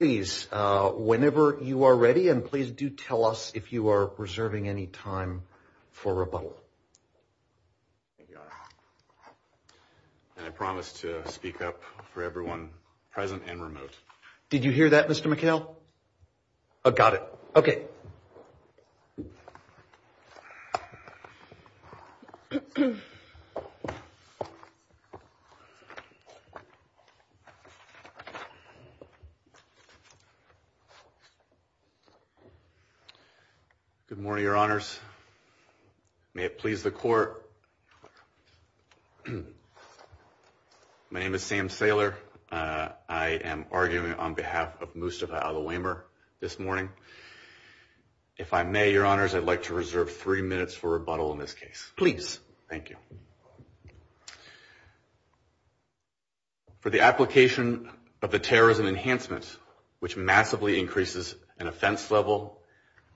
Please, whenever you are ready, and please do tell us if you are reserving any time for rebuttal. And I promise to speak up for everyone, present and remote. Did you hear that, Mr. McHale? I've got it. OK. Good morning, Your Honors. May it please the court. My name is Sam Saylor. I am arguing on behalf of Mustafa Alowemer this morning. If I may, Your Honors, I'd like to reserve three minutes for rebuttal in this case. Please. Thank you. For the application of the terrorism enhancement, which massively increases an offense level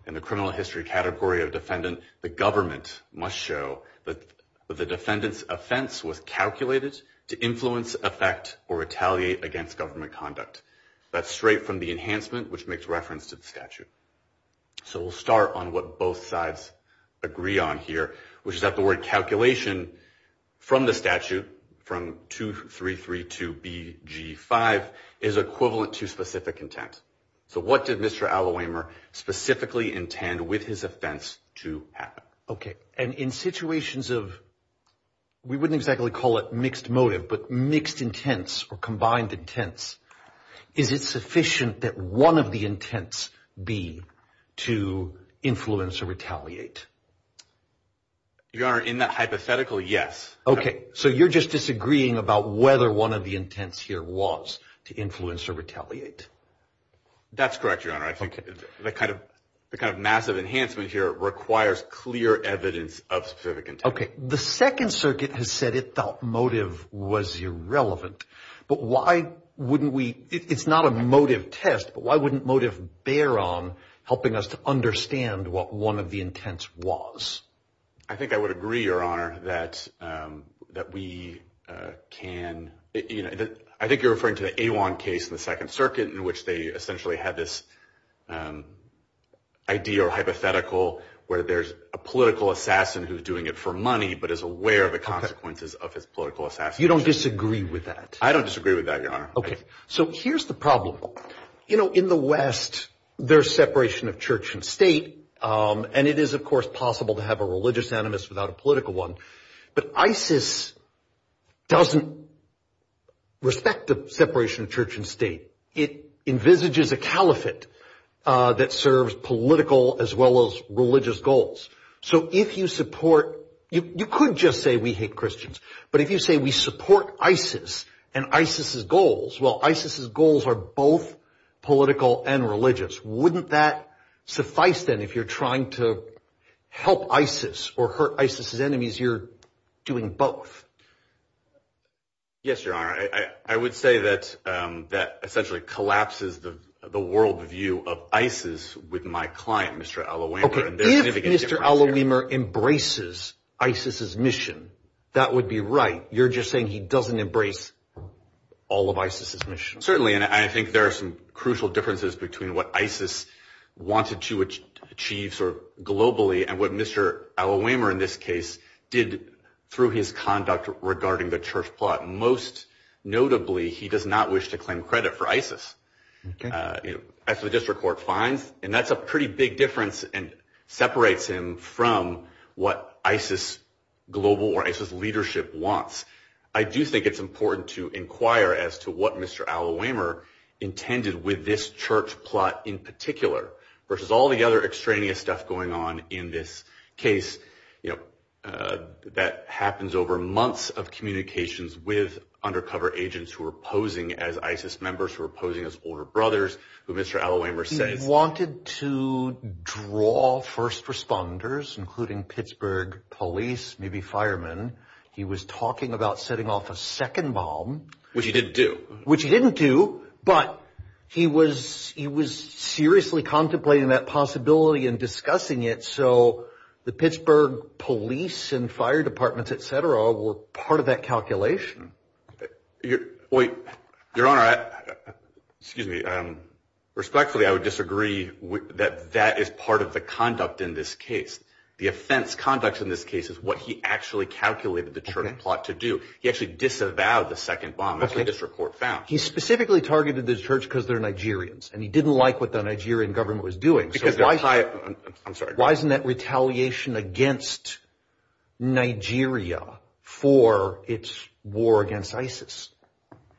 in the criminal history category of defendant, the government must show that the defendant's offense was calculated to influence, affect, or retaliate against government conduct. That's straight from the enhancement, which makes reference to the statute. So we'll start on what both sides agree on here, which is that the word calculation from the statute, from 2332BG5, is equivalent to specific intent. So what did Mr. Alowemer specifically intend with his offense to happen? OK. And in situations of, we wouldn't exactly call it mixed motive, but mixed intents or combined intents, is it sufficient that one of the intents be to influence or retaliate? Your Honor, in that hypothetical, yes. OK. So you're just disagreeing about whether one of the intents here was to influence or retaliate? That's correct, Your Honor. I think the kind of massive enhancement here requires clear evidence of specific intent. OK. The Second Circuit has said it thought motive was irrelevant, but why wouldn't we, it's not a motive test, but why wouldn't motive bear on helping us to understand what one of the intents was? I think I would agree, Your Honor, that we can, you know, I think you're referring to the Awan case in the Second Circuit in which they essentially had this idea or hypothetical where there's a political assassin who's doing it for money but is aware of the consequences of his political assassination. You don't disagree with that? I don't disagree with that, Your Honor. OK. So here's the problem. You know, in the West, there's separation of church and state, and it is, of course, possible to have a religious animus without a political one. But ISIS doesn't respect the separation of church and state. It envisages a caliphate that serves political as well as religious goals. So if you support, you could just say we hate Christians, but if you say we support ISIS and ISIS's goals, well, ISIS's goals are both political and religious. Wouldn't that suffice then if you're trying to help ISIS or hurt ISIS's enemies? You're doing both. Yes, Your Honor. I would say that that essentially collapses the world view of ISIS with my client, Mr. Al Oweimer. OK. If Mr. Al Oweimer embraces ISIS's mission, that would be right. Certainly, and I think there are some crucial differences between what ISIS wanted to achieve sort of globally and what Mr. Al Oweimer in this case did through his conduct regarding the church plot. Most notably, he does not wish to claim credit for ISIS, as the district court finds, and that's a pretty big difference and separates him from what ISIS global or ISIS leadership wants. I do think it's important to inquire as to what Mr. Al Oweimer intended with this church plot in particular versus all the other extraneous stuff going on in this case, you know, that happens over months of communications with undercover agents who are posing as ISIS members, who are posing as older brothers, who Mr. Al Oweimer says. He wanted to draw first responders, including Pittsburgh police, maybe firemen. He was talking about setting off a second bomb. Which he didn't do. Which he didn't do, but he was seriously contemplating that possibility and discussing it, so the Pittsburgh police and fire departments, et cetera, were part of that calculation. Your Honor, excuse me, respectfully, I would disagree that that is part of the conduct in this case. The offense conduct in this case is what he actually calculated the church plot to do. He actually disavowed the second bomb, as the district court found. He specifically targeted the church because they're Nigerians, and he didn't like what the Nigerian government was doing. I'm sorry. Why isn't that retaliation against Nigeria for its war against ISIS?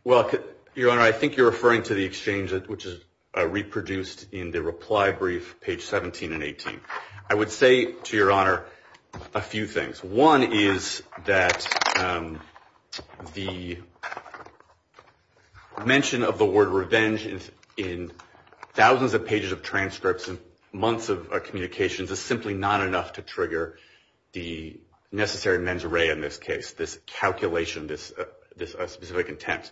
Well, Your Honor, I think you're referring to the exchange, which is reproduced in the reply brief, page 17 and 18. I would say, to Your Honor, a few things. One is that the mention of the word revenge in thousands of pages of transcripts and months of communications is simply not enough to trigger the necessary mens rea in this case, this calculation, this specific intent.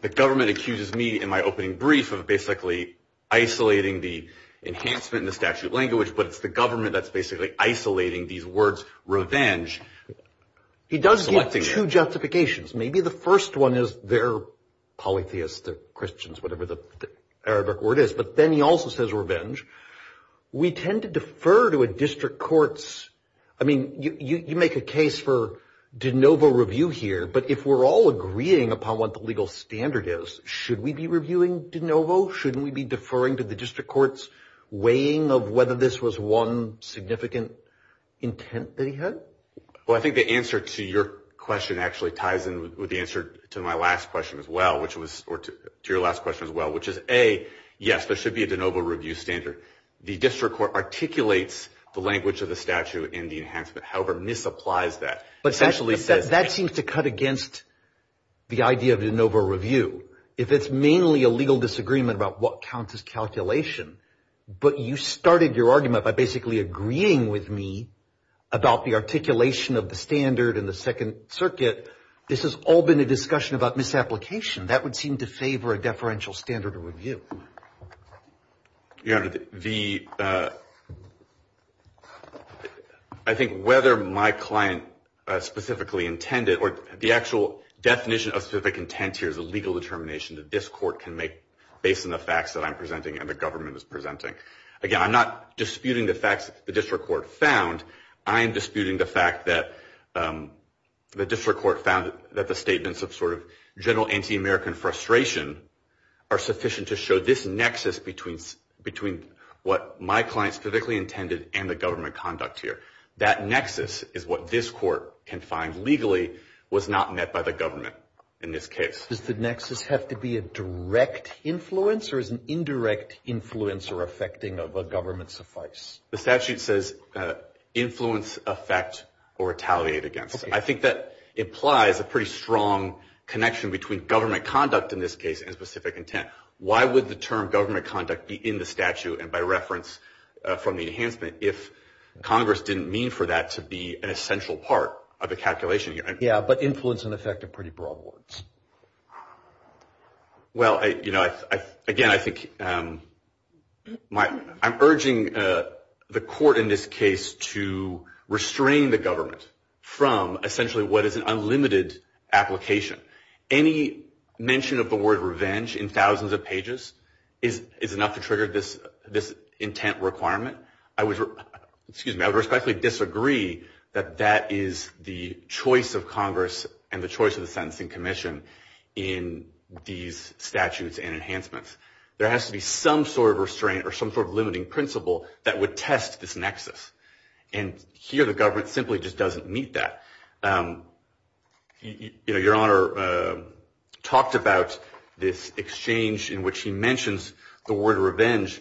The government accuses me in my opening brief of basically isolating the enhancement in the statute language, but it's the government that's basically isolating these words revenge. He does give two justifications. Maybe the first one is they're polytheists, they're Christians, whatever the Arabic word is, but then he also says revenge. We tend to defer to a district court's, I mean, you make a case for de novo review here, but if we're all agreeing upon what the legal standard is, should we be reviewing de novo? Shouldn't we be deferring to the district court's weighing of whether this was one significant intent that he had? Well, I think the answer to your question actually ties in with the answer to my last question as well, or to your last question as well, which is, A, yes, there should be a de novo review standard. The district court articulates the language of the statute and the enhancement. However, misapplies that. But that seems to cut against the idea of de novo review. If it's mainly a legal disagreement about what counts as calculation, but you started your argument by basically agreeing with me about the articulation of the standard and the Second Circuit, this has all been a discussion about misapplication. That would seem to favor a deferential standard of review. Your Honor, I think whether my client specifically intended, or the actual definition of specific intent here is a legal determination that this court can make based on the facts that I'm presenting and the government is presenting. Again, I'm not disputing the facts that the district court found. I am disputing the fact that the district court found that the statements of sort of general anti-American frustration are sufficient to show this nexus between what my client specifically intended and the government conduct here. That nexus is what this court can find legally was not met by the government in this case. Does the nexus have to be a direct influence, or is an indirect influence or affecting of a government suffice? The statute says influence, affect, or retaliate against. I think that implies a pretty strong connection between government conduct in this case and specific intent. Why would the term government conduct be in the statute and by reference from the enhancement if Congress didn't mean for that to be an essential part of the calculation here? Yeah, but influence and affect are pretty broad words. Well, you know, again, I think I'm urging the court in this case to restrain the government from essentially what is an unlimited application. Any mention of the word revenge in thousands of pages is enough to trigger this intent requirement. Excuse me, I would respectfully disagree that that is the choice of Congress and the choice of the Sentencing Commission in these statutes and enhancements. There has to be some sort of restraint or some sort of limiting principle that would test this nexus. And here the government simply just doesn't meet that. Your Honor talked about this exchange in which he mentions the word revenge.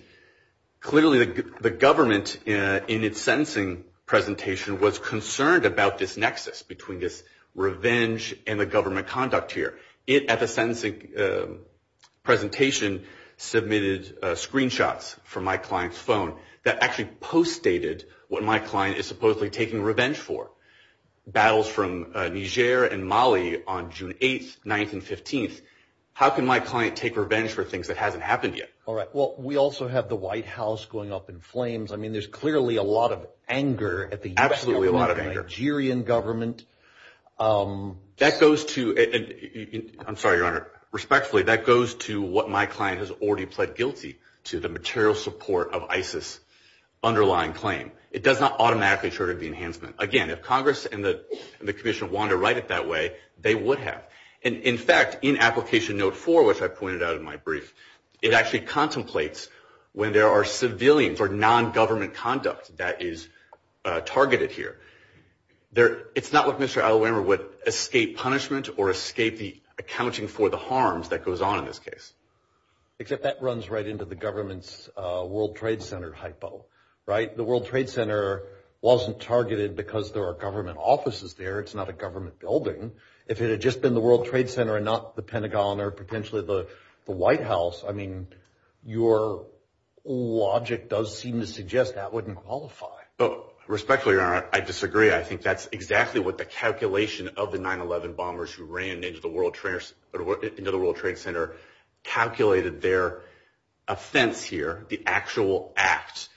Clearly the government in its sentencing presentation was concerned about this nexus between this revenge and the government conduct here. It, at the sentencing presentation, submitted screenshots from my client's phone that actually post-stated what my client is supposedly taking revenge for. Battles from Niger and Mali on June 8th, 9th, and 15th. How can my client take revenge for things that hasn't happened yet? All right, well, we also have the White House going up in flames. I mean, there's clearly a lot of anger at the U.S. government. Absolutely a lot of anger. The Nigerian government. That goes to, I'm sorry, Your Honor. Respectfully, that goes to what my client has already pled guilty to, the material support of ISIS underlying claim. It does not automatically trigger the enhancement. Again, if Congress and the Commission wanted to write it that way, they would have. And, in fact, in Application Note 4, which I pointed out in my brief, it actually contemplates when there are civilians or non-government conduct that is targeted here. It's not what Mr. Allewander would escape punishment or escape the accounting for the harms that goes on in this case. Except that runs right into the government's World Trade Center hypo, right? The World Trade Center wasn't targeted because there are government offices there. It's not a government building. If it had just been the World Trade Center and not the Pentagon or potentially the White House, I mean, your logic does seem to suggest that wouldn't qualify. Respectfully, Your Honor, I disagree. I think that's exactly what the calculation of the 9-11 bombers who ran into the World Trade Center calculated their offense here, the actual act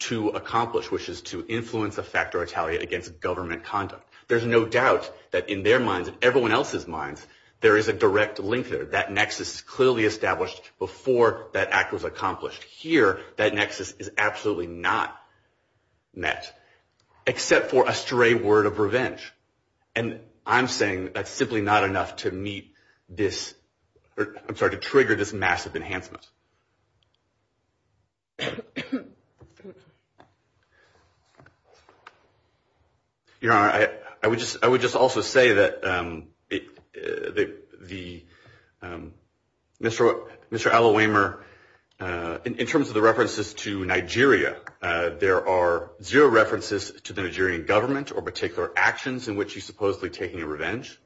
to accomplish, which is to influence a factor of retaliation against government conduct. There's no doubt that in their minds and everyone else's minds, there is a direct link there. That nexus is clearly established before that act was accomplished. Here, that nexus is absolutely not met, except for a stray word of revenge. And I'm saying that's simply not enough to meet this or, I'm sorry, to trigger this massive enhancement. Your Honor, I would just also say that Mr. Allawaymer, in terms of the references to Nigeria, there are zero references to the Nigerian government or particular actions in which he's supposedly taking a revenge.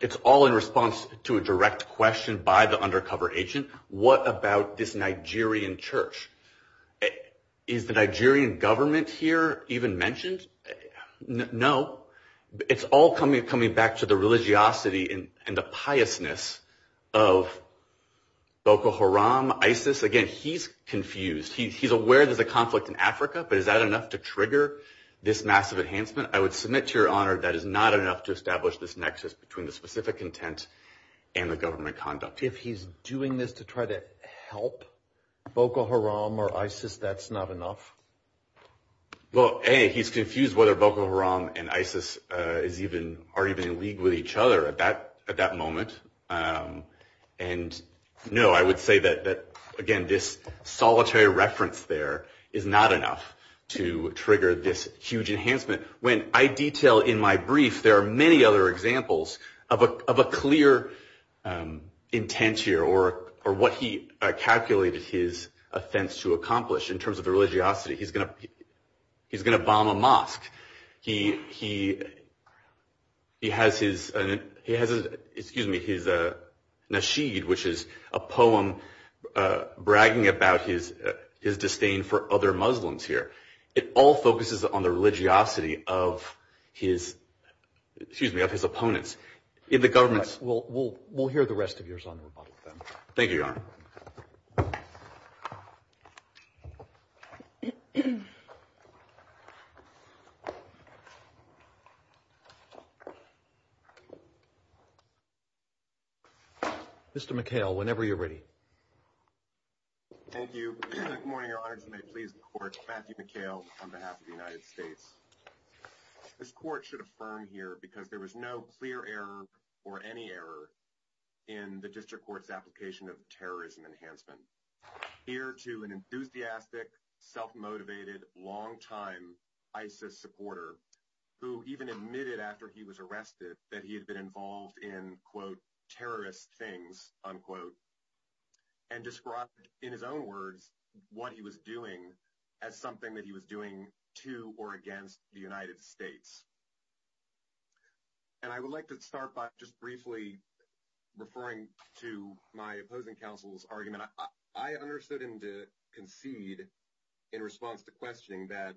It's all in response to a direct question by the undercover agent. What about this Nigerian church? Is the Nigerian government here even mentioned? No. It's all coming back to the religiosity and the piousness of Boko Haram, ISIS. Again, he's confused. He's aware there's a conflict in Africa, but is that enough to trigger this massive enhancement? I would submit to Your Honor that is not enough to establish this nexus between the specific intent and the government conduct. If he's doing this to try to help Boko Haram or ISIS, that's not enough? Well, A, he's confused whether Boko Haram and ISIS are even in league with each other at that moment. And no, I would say that, again, this solitary reference there is not enough to trigger this huge enhancement. And when I detail in my brief, there are many other examples of a clear intent here or what he calculated his offense to accomplish in terms of the religiosity. He's going to bomb a mosque. He has his nashid, which is a poem bragging about his disdain for other Muslims here. It all focuses on the religiosity of his opponents in the government. We'll hear the rest of yours on the rebuttal. Thank you, Your Honor. Mr. McHale, whenever you're ready. Thank you. Good morning, Your Honor. As you may please the court, Matthew McHale on behalf of the United States. This court should affirm here because there was no clear error or any error in the district court's application of terrorism enhancement. Here to an enthusiastic, self-motivated, long-time ISIS supporter who even admitted after he was arrested that he had been involved in, quote, what he was doing as something that he was doing to or against the United States. And I would like to start by just briefly referring to my opposing counsel's argument. And I understood him to concede in response to questioning that.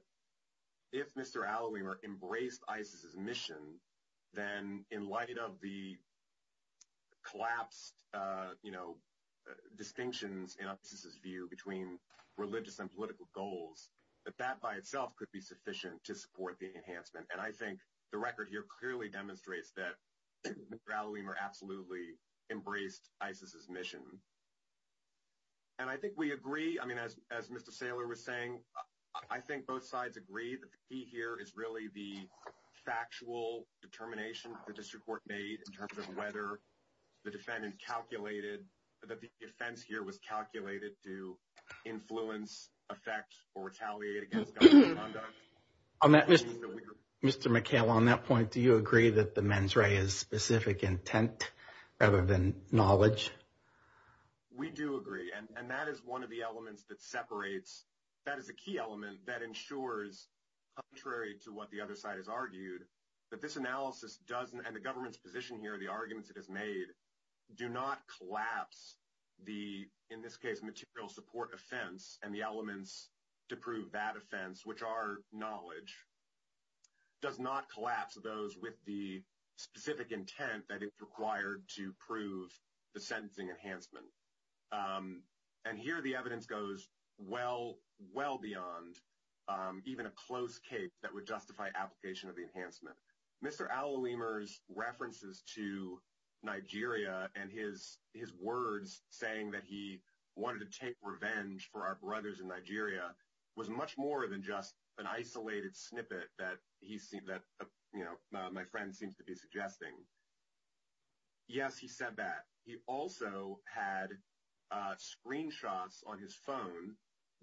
If Mr. Alloy were embraced ISIS's mission, then in light of the. Collapsed, you know, distinctions in his view between religious and political goals, that that by itself could be sufficient to support the enhancement. And I think the record here clearly demonstrates that rallying or absolutely embraced ISIS's mission. And I think we agree, I mean, as as Mr. Saylor was saying, I think both sides agree that he here is really the factual determination. The district court made in terms of whether the defendant calculated that the defense here was calculated to influence, affect or retaliate against. On that, Mr. McHale, on that point, do you agree that the mens rea is specific intent rather than knowledge? We do agree, and that is one of the elements that separates that is a key element that ensures, contrary to what the other side has argued, that this analysis doesn't and the government's position here, the arguments it has made do not collapse. The in this case, material support offense and the elements to prove that offense, which are knowledge. Does not collapse those with the specific intent that is required to prove the sentencing enhancement. And here the evidence goes well, well beyond even a close case that would justify application of the enhancement. Mr. Alla Weemers references to Nigeria and his his words saying that he wanted to take revenge for our brothers in Nigeria was much more than just an isolated snippet that he said that, you know, my friend seems to be suggesting. Yes, he said that. He also had screenshots on his phone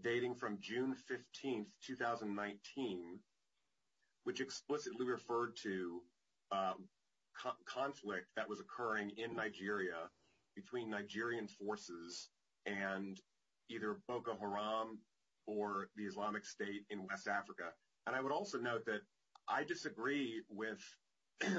dating from June 15th, 2019. Which explicitly referred to conflict that was occurring in Nigeria between Nigerian forces and either Boko Haram or the Islamic State in West Africa. And I would also note that I disagree with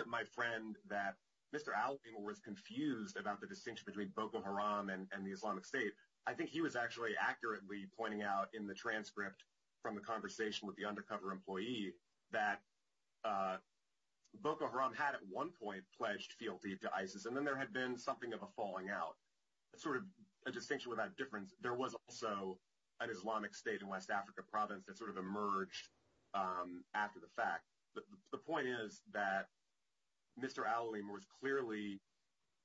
my friend that Mr. Alla Weemers was confused about the distinction between Boko Haram and the Islamic State. I think he was actually accurately pointing out in the transcript from the conversation with the undercover employee that Boko Haram had at one point pledged feel deep to ISIS. And then there had been something of a falling out. Sort of a distinction without difference. There was also an Islamic State in West Africa province that sort of emerged after the fact. The point is that Mr. Alla Weemers was clearly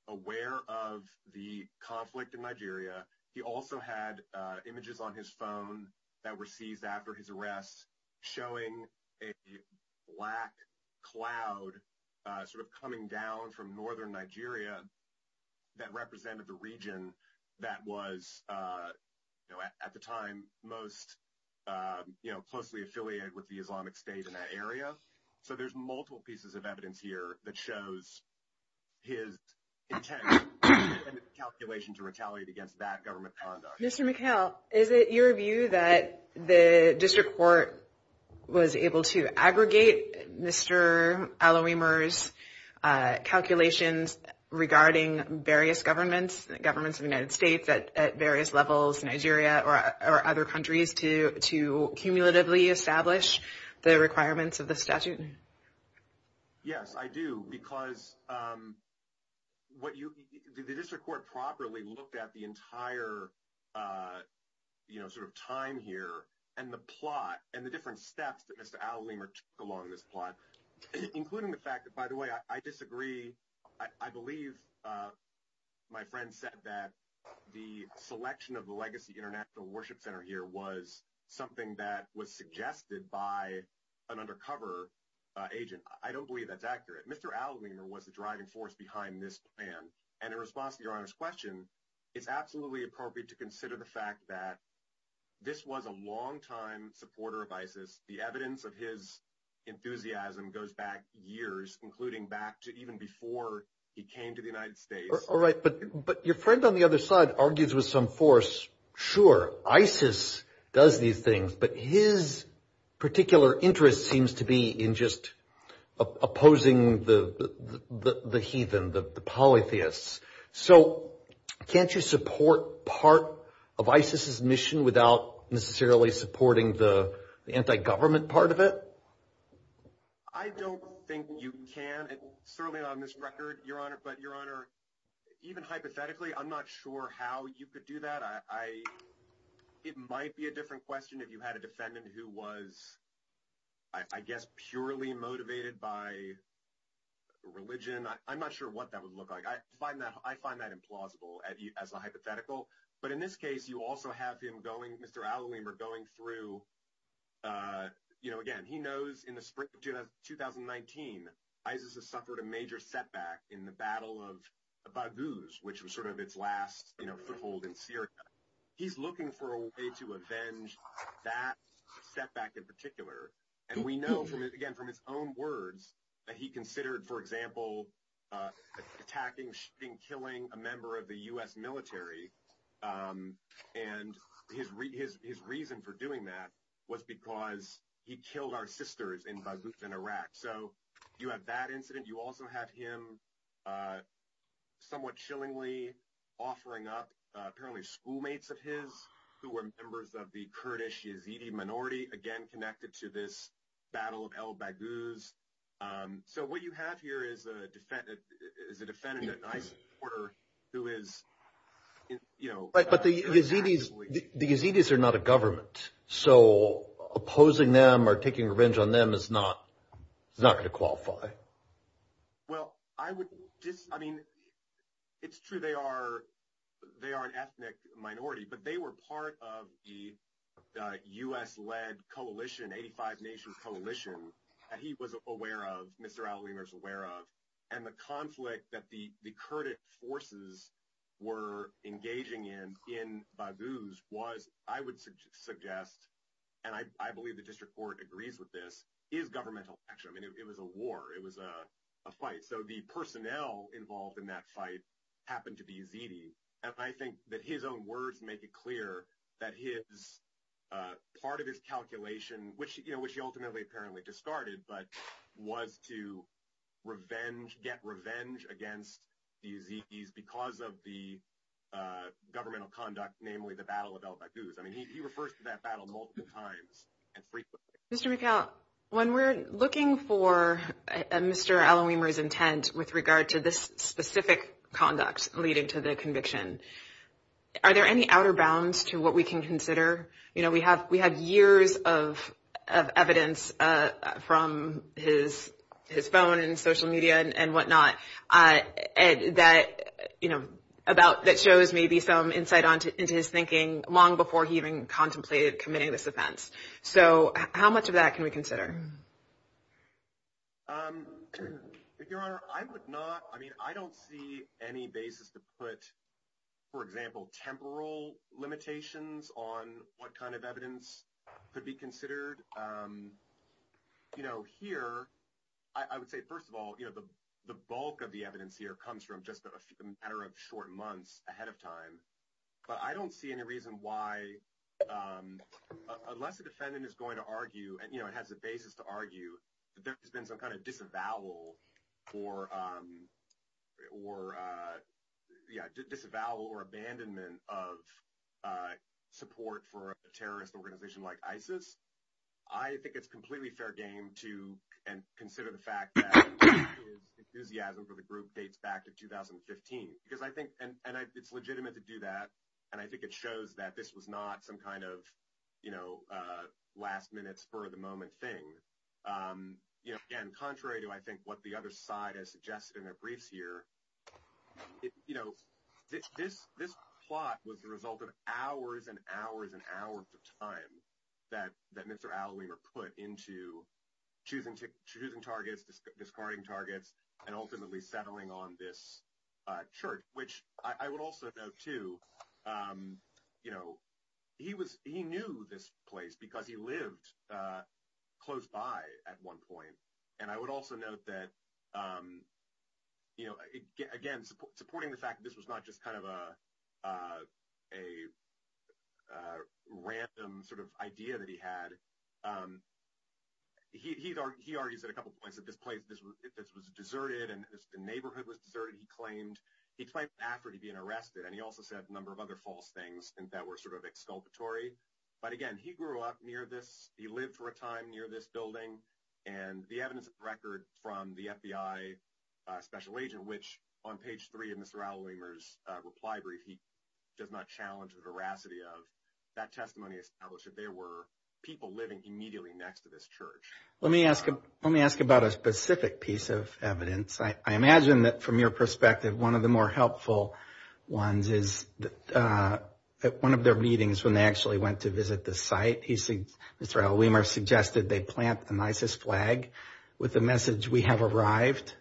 aware of the conflict in Nigeria. He also had images on his phone that were seized after his arrest showing a black cloud sort of coming down from northern Nigeria that represented the region that was at the time most closely affiliated with the Islamic State in that area. So there's multiple pieces of evidence here that shows his intent and calculation to retaliate against that government conduct. Mr. McHale, is it your view that the district court was able to aggregate Mr. Alla Weemers' calculations regarding various governments? Governments of the United States at various levels, Nigeria or other countries to cumulatively establish the requirements of the statute? Yes, I do. Because the district court properly looked at the entire sort of time here and the plot and the different steps that Mr. Alla Weemers took along this plot. Including the fact that, by the way, I disagree. I believe my friend said that the selection of the Legacy International Worship Center here was something that was suggested by an undercover agent. I don't believe that's accurate. Mr. Alla Weemers was the driving force behind this plan. And in response to Your Honor's question, it's absolutely appropriate to consider the fact that this was a longtime supporter of ISIS. The evidence of his enthusiasm goes back years, including back to even before he came to the United States. All right. But your friend on the other side argues with some force, sure, ISIS does these things, but his particular interest seems to be in just opposing the heathen, the polytheists. So can't you support part of ISIS's mission without necessarily supporting the anti-government part of it? I don't think you can, certainly not on this record, Your Honor. But Your Honor, even hypothetically, I'm not sure how you could do that. It might be a different question if you had a defendant who was, I guess, purely motivated by religion. I'm not sure what that would look like. I find that implausible as a hypothetical. But in this case, you also have him going, Mr. Alla Weemers, going through, you know, again, he knows in the spring of 2019, ISIS has suffered a major setback in the Battle of Baghouz, which was sort of its last, you know, foothold in Syria. He's looking for a way to avenge that setback in particular. And we know, again, from his own words, that he considered, for example, attacking, killing a member of the U.S. military. And his reason for doing that was because he killed our sisters in Baghouz in Iraq. So you have that incident. You also have him somewhat chillingly offering up apparently schoolmates of his who were members of the Kurdish Yazidi minority, again, connected to this Battle of El Baghouz. So what you have here is a defendant, an ISIS supporter who is, you know. But the Yazidis are not a government. So opposing them or taking revenge on them is not going to qualify. Well, I would just, I mean, it's true they are an ethnic minority, but they were part of the U.S.-led coalition, 85-nation coalition that he was aware of, Mr. Alla Weemers aware of. And the conflict that the Kurdish forces were engaging in in Baghouz was, I would suggest, and I believe the district court agrees with this, is governmental action. I mean, it was a war. It was a fight. So the personnel involved in that fight happened to be Yazidi. And I think that his own words make it clear that his, part of his calculation, which he ultimately apparently discarded, but was to revenge, get revenge against the Yazidis because of the governmental conduct, namely the Battle of El Baghouz. I mean, he refers to that battle multiple times and frequently. Mr. McHale, when we're looking for Mr. Alla Weemers' intent with regard to this specific conduct leading to the conviction, are there any outer bounds to what we can consider? You know, we have years of evidence from his phone and social media and whatnot that shows maybe some insight into his thinking long before he even contemplated committing this offense. So how much of that can we consider? Your Honor, I would not, I mean, I don't see any basis to put, for example, temporal limitations on what kind of evidence could be considered. You know, here, I would say, first of all, you know, the bulk of the evidence here comes from just a matter of short months ahead of time. But I don't see any reason why, unless the defendant is going to argue, you know, it has the basis to argue that there has been some kind of disavowal or, yeah, disavowal or abandonment of support for a terrorist organization like ISIS. I think it's completely fair game to consider the fact that his enthusiasm for the group dates back to 2015. Because I think, and it's legitimate to do that, and I think it shows that this was not some kind of, you know, last-minute spur-of-the-moment thing. You know, again, contrary to, I think, what the other side has suggested in their briefs here, you know, this plot was the result of hours and hours and hours of time that Mr. Alleweyner put into choosing targets, discarding targets, and ultimately settling on this church. Which I would also note, too, you know, he knew this place because he lived close by at one point. And I would also note that, you know, again, supporting the fact that this was not just kind of a random sort of idea that he had, he argues at a couple points that this place was deserted and the neighborhood was deserted. He claimed after he'd been arrested, and he also said a number of other false things that were sort of exculpatory. But again, he grew up near this, he lived for a time near this building. And the evidence of the record from the FBI special agent, which on page three of Mr. Alleweyner's reply brief, he does not challenge the veracity of, that testimony established that there were people living immediately next to this church. Let me ask about a specific piece of evidence. I imagine that from your perspective, one of the more helpful ones is at one of their meetings when they actually went to visit the site, Mr. Alleweyner suggested they plant an ISIS flag with the message, we have arrived,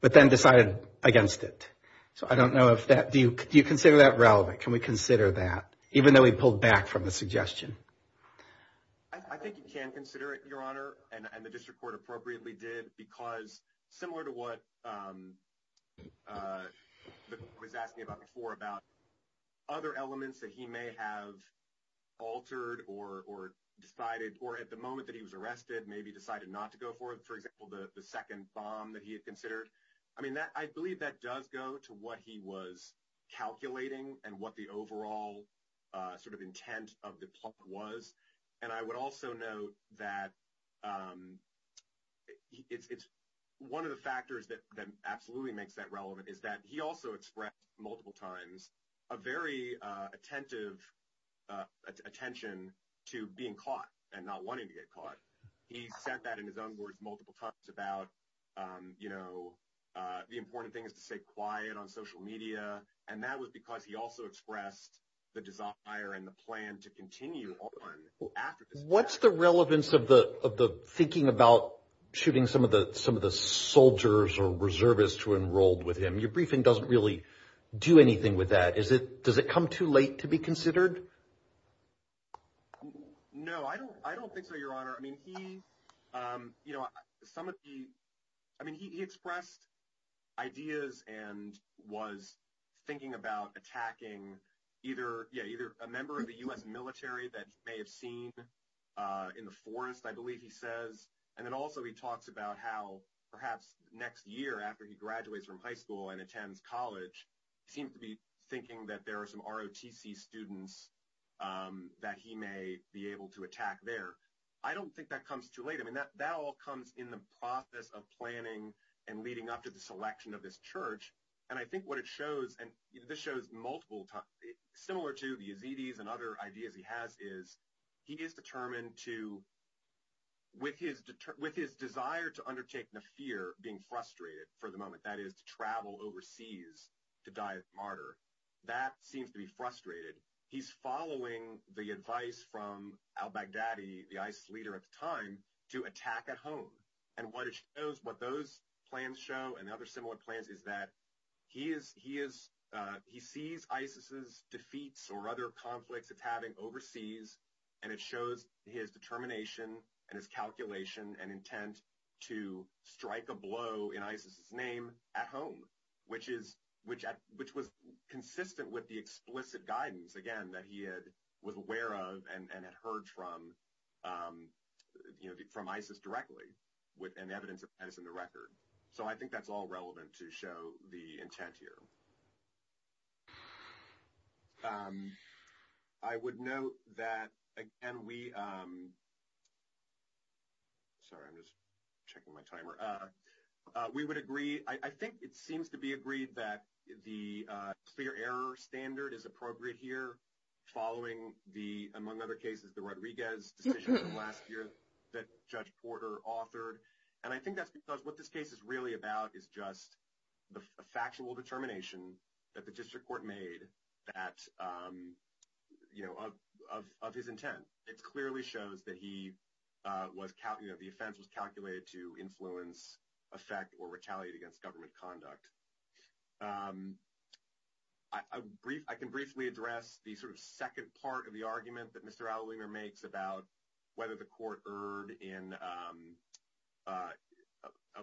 but then decided against it. So I don't know if that, do you consider that relevant? Can we consider that, even though he pulled back from the suggestion? I think you can consider it, Your Honor, and the district court appropriately did, because similar to what I was asking about before about other elements that he may have altered or decided, or at the moment that he was arrested, maybe decided not to go for, for example, the second bomb that he had considered. I mean, I believe that does go to what he was calculating and what the overall sort of intent of the plot was. And I would also note that it's one of the factors that absolutely makes that relevant is that he also expressed multiple times a very attentive attention to being caught and not wanting to get caught. He said that in his own words multiple times about, you know, the important thing is to stay quiet on social media. And that was because he also expressed the desire and the plan to continue on after this. What's the relevance of the, of the thinking about shooting some of the, some of the soldiers or reservists who enrolled with him? Your briefing doesn't really do anything with that. Is it, does it come too late to be considered? No, I don't, I don't think so, Your Honor. I mean, he, you know, some of the, I mean, he expressed ideas and was thinking about attacking either, yeah, either a member of the U.S. military that may have seen in the forest, I believe he says. And then also he talks about how perhaps next year after he graduates from high school and attends college, he seems to be thinking that there are some ROTC students that he may be able to attack there. I don't think that comes too late. I mean, that all comes in the process of planning and leading up to the selection of this church. And I think what it shows, and this shows multiple times, similar to the Yazidis and other ideas he has is he is determined to, with his, with his desire to undertake Nafir being frustrated for the moment, that is to travel overseas to die a martyr, that seems to be frustrated. He's following the advice from al-Baghdadi, the ISIS leader at the time, to attack at home. And what it shows, what those plans show and other similar plans is that he is, he sees ISIS's defeats or other conflicts it's having overseas, and it shows his determination and his calculation and intent to strike a blow in ISIS's name at home, which is, which was consistent with the explicit guidance, again, that he was aware of and had heard from, you know, from ISIS directly. And evidence of that is in the record. So I think that's all relevant to show the intent here. I would note that, again, we, sorry, I'm just checking my timer, we would agree, I think it seems to be agreed that the clear error standard is appropriate here, following the, among other cases, the Rodriguez decision last year that Judge Porter authored. And I think that's because what this case is really about is just the factual determination that the district court made that, you know, of his intent. It clearly shows that he was, you know, the offense was calculated to influence, affect, or retaliate against government conduct. I can briefly address the sort of second part of the argument that Mr. Allalinger makes about whether the court erred in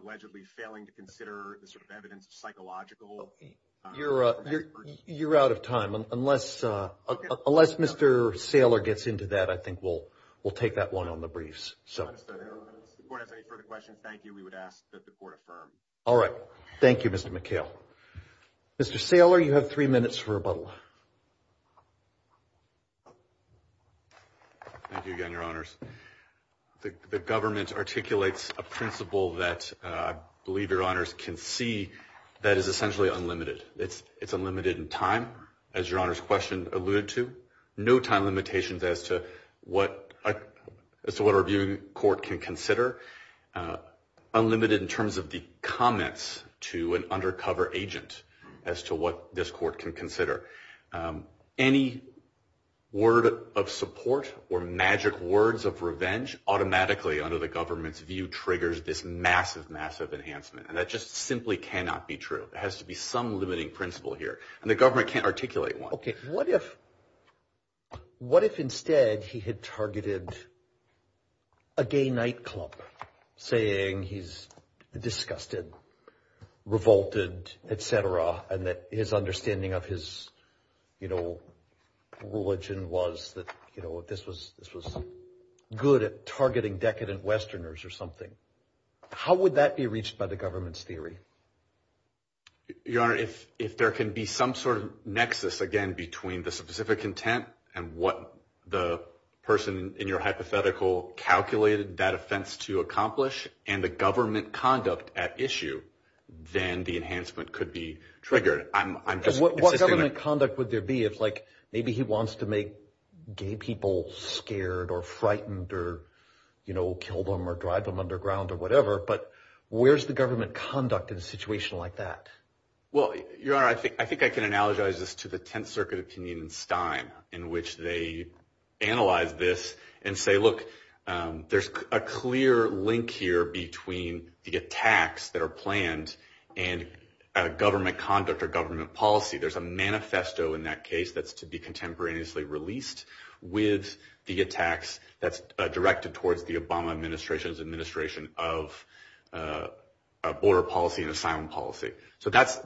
allegedly failing to consider the sort of evidence of psychological. You're out of time. Unless Mr. Saylor gets into that, I think we'll take that one on the briefs. If the court has any further questions, thank you. We would ask that the court affirm. All right. Thank you, Mr. McHale. Mr. Saylor, you have three minutes for rebuttal. Thank you again, Your Honors. The government articulates a principle that I believe Your Honors can see that is essentially unlimited. It's unlimited in time, as Your Honors' question alluded to. No time limitations as to what our viewing court can consider. Unlimited in terms of the comments to an undercover agent as to what this court can consider. Any word of support or magic words of revenge automatically, under the government's view, triggers this massive, massive enhancement. And that just simply cannot be true. There has to be some limiting principle here. And the government can't articulate one. Okay. What if instead he had targeted a gay nightclub, saying he's disgusted, revolted, et cetera, and that his understanding of his religion was that this was good at targeting decadent Westerners or something? How would that be reached by the government's theory? Your Honor, if there can be some sort of nexus, again, between the specific intent and what the person in your hypothetical calculated that offense to accomplish and the government conduct at issue, then the enhancement could be triggered. What government conduct would there be if, like, maybe he wants to make gay people scared or frightened or kill them or drive them underground or whatever? But where's the government conduct in a situation like that? Well, Your Honor, I think I can analogize this to the Tenth Circuit opinion in Stein, in which they analyze this and say, look, there's a clear link here between the attacks that are planned and government conduct or government policy. There's a manifesto in that case that's to be contemporaneously released with the attacks that's directed towards the Obama administration's administration of border policy and asylum policy. So that's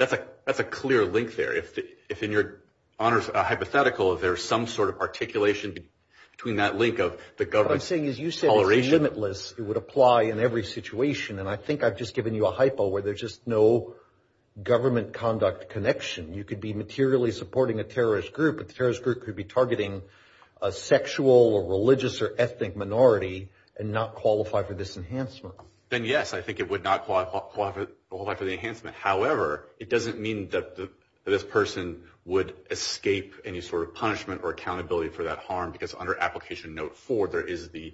a clear link there. If in your hypothetical there's some sort of articulation between that link of the government's toleration. What I'm saying is you said it's limitless. It would apply in every situation. And I think I've just given you a hypo where there's just no government conduct connection. You could be materially supporting a terrorist group, but the terrorist group could be targeting a sexual or religious or ethnic minority and not qualify for this enhancement. Then, yes, I think it would not qualify for the enhancement. However, it doesn't mean that this person would escape any sort of punishment or accountability for that harm because under Application Note 4 there is the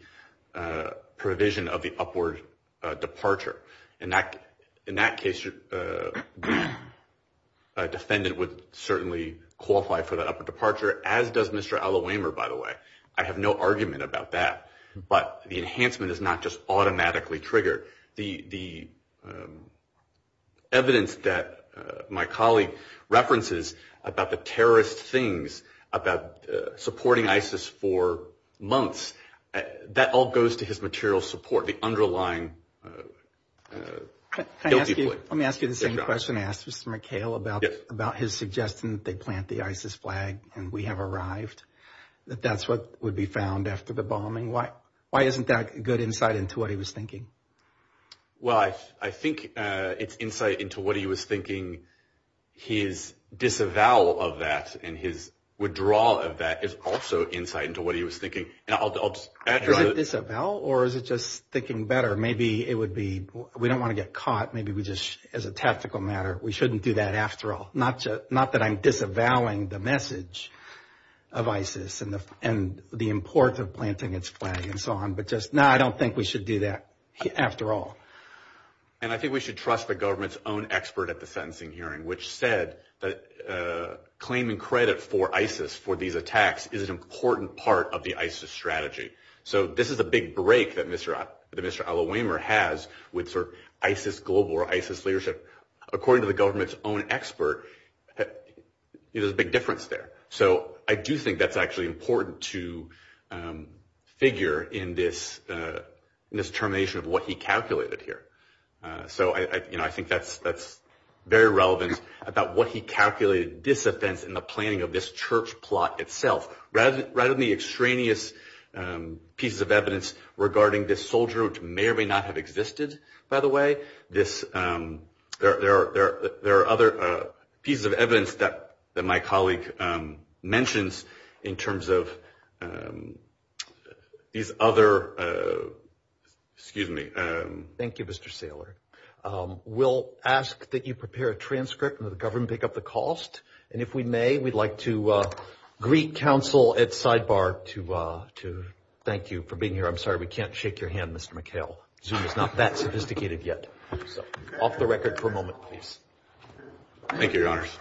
provision of the upward departure. In that case, a defendant would certainly qualify for that upward departure, as does Mr. Allawaymer, by the way. I have no argument about that. But the enhancement is not just automatically triggered. The evidence that my colleague references about the terrorist things, about supporting ISIS for months, that all goes to his material support, the underlying guilty plea. Let me ask you the same question I asked Mr. McHale about his suggestion that they plant the ISIS flag and we have arrived, that that's what would be found after the bombing. Why isn't that good insight into what he was thinking? Well, I think it's insight into what he was thinking. His disavowal of that and his withdrawal of that is also insight into what he was thinking. Is it disavowal or is it just thinking better? Maybe it would be we don't want to get caught. Maybe we just, as a tactical matter, we shouldn't do that after all. Not that I'm disavowing the message of ISIS and the importance of planting its flag and so on, but just no, I don't think we should do that after all. And I think we should trust the government's own expert at the sentencing hearing, which said that claiming credit for ISIS, for these attacks, is an important part of the ISIS strategy. So this is a big break that Mr. Alawamer has with sort of ISIS global or ISIS leadership. According to the government's own expert, there's a big difference there. So I do think that's actually important to figure in this determination of what he calculated here. So I think that's very relevant about what he calculated disoffense in the planning of this church plot itself. Rather than the extraneous pieces of evidence regarding this soldier, which may or may not have existed, by the way, there are other pieces of evidence that my colleague mentions in terms of these other, excuse me. Thank you, Mr. Saylor. We'll ask that you prepare a transcript and that the government pick up the cost. And if we may, we'd like to greet counsel at sidebar to thank you for being here. I'm sorry we can't shake your hand, Mr. McHale. Zoom is not that sophisticated yet. So off the record for a moment, please. Thank you, Your Honors.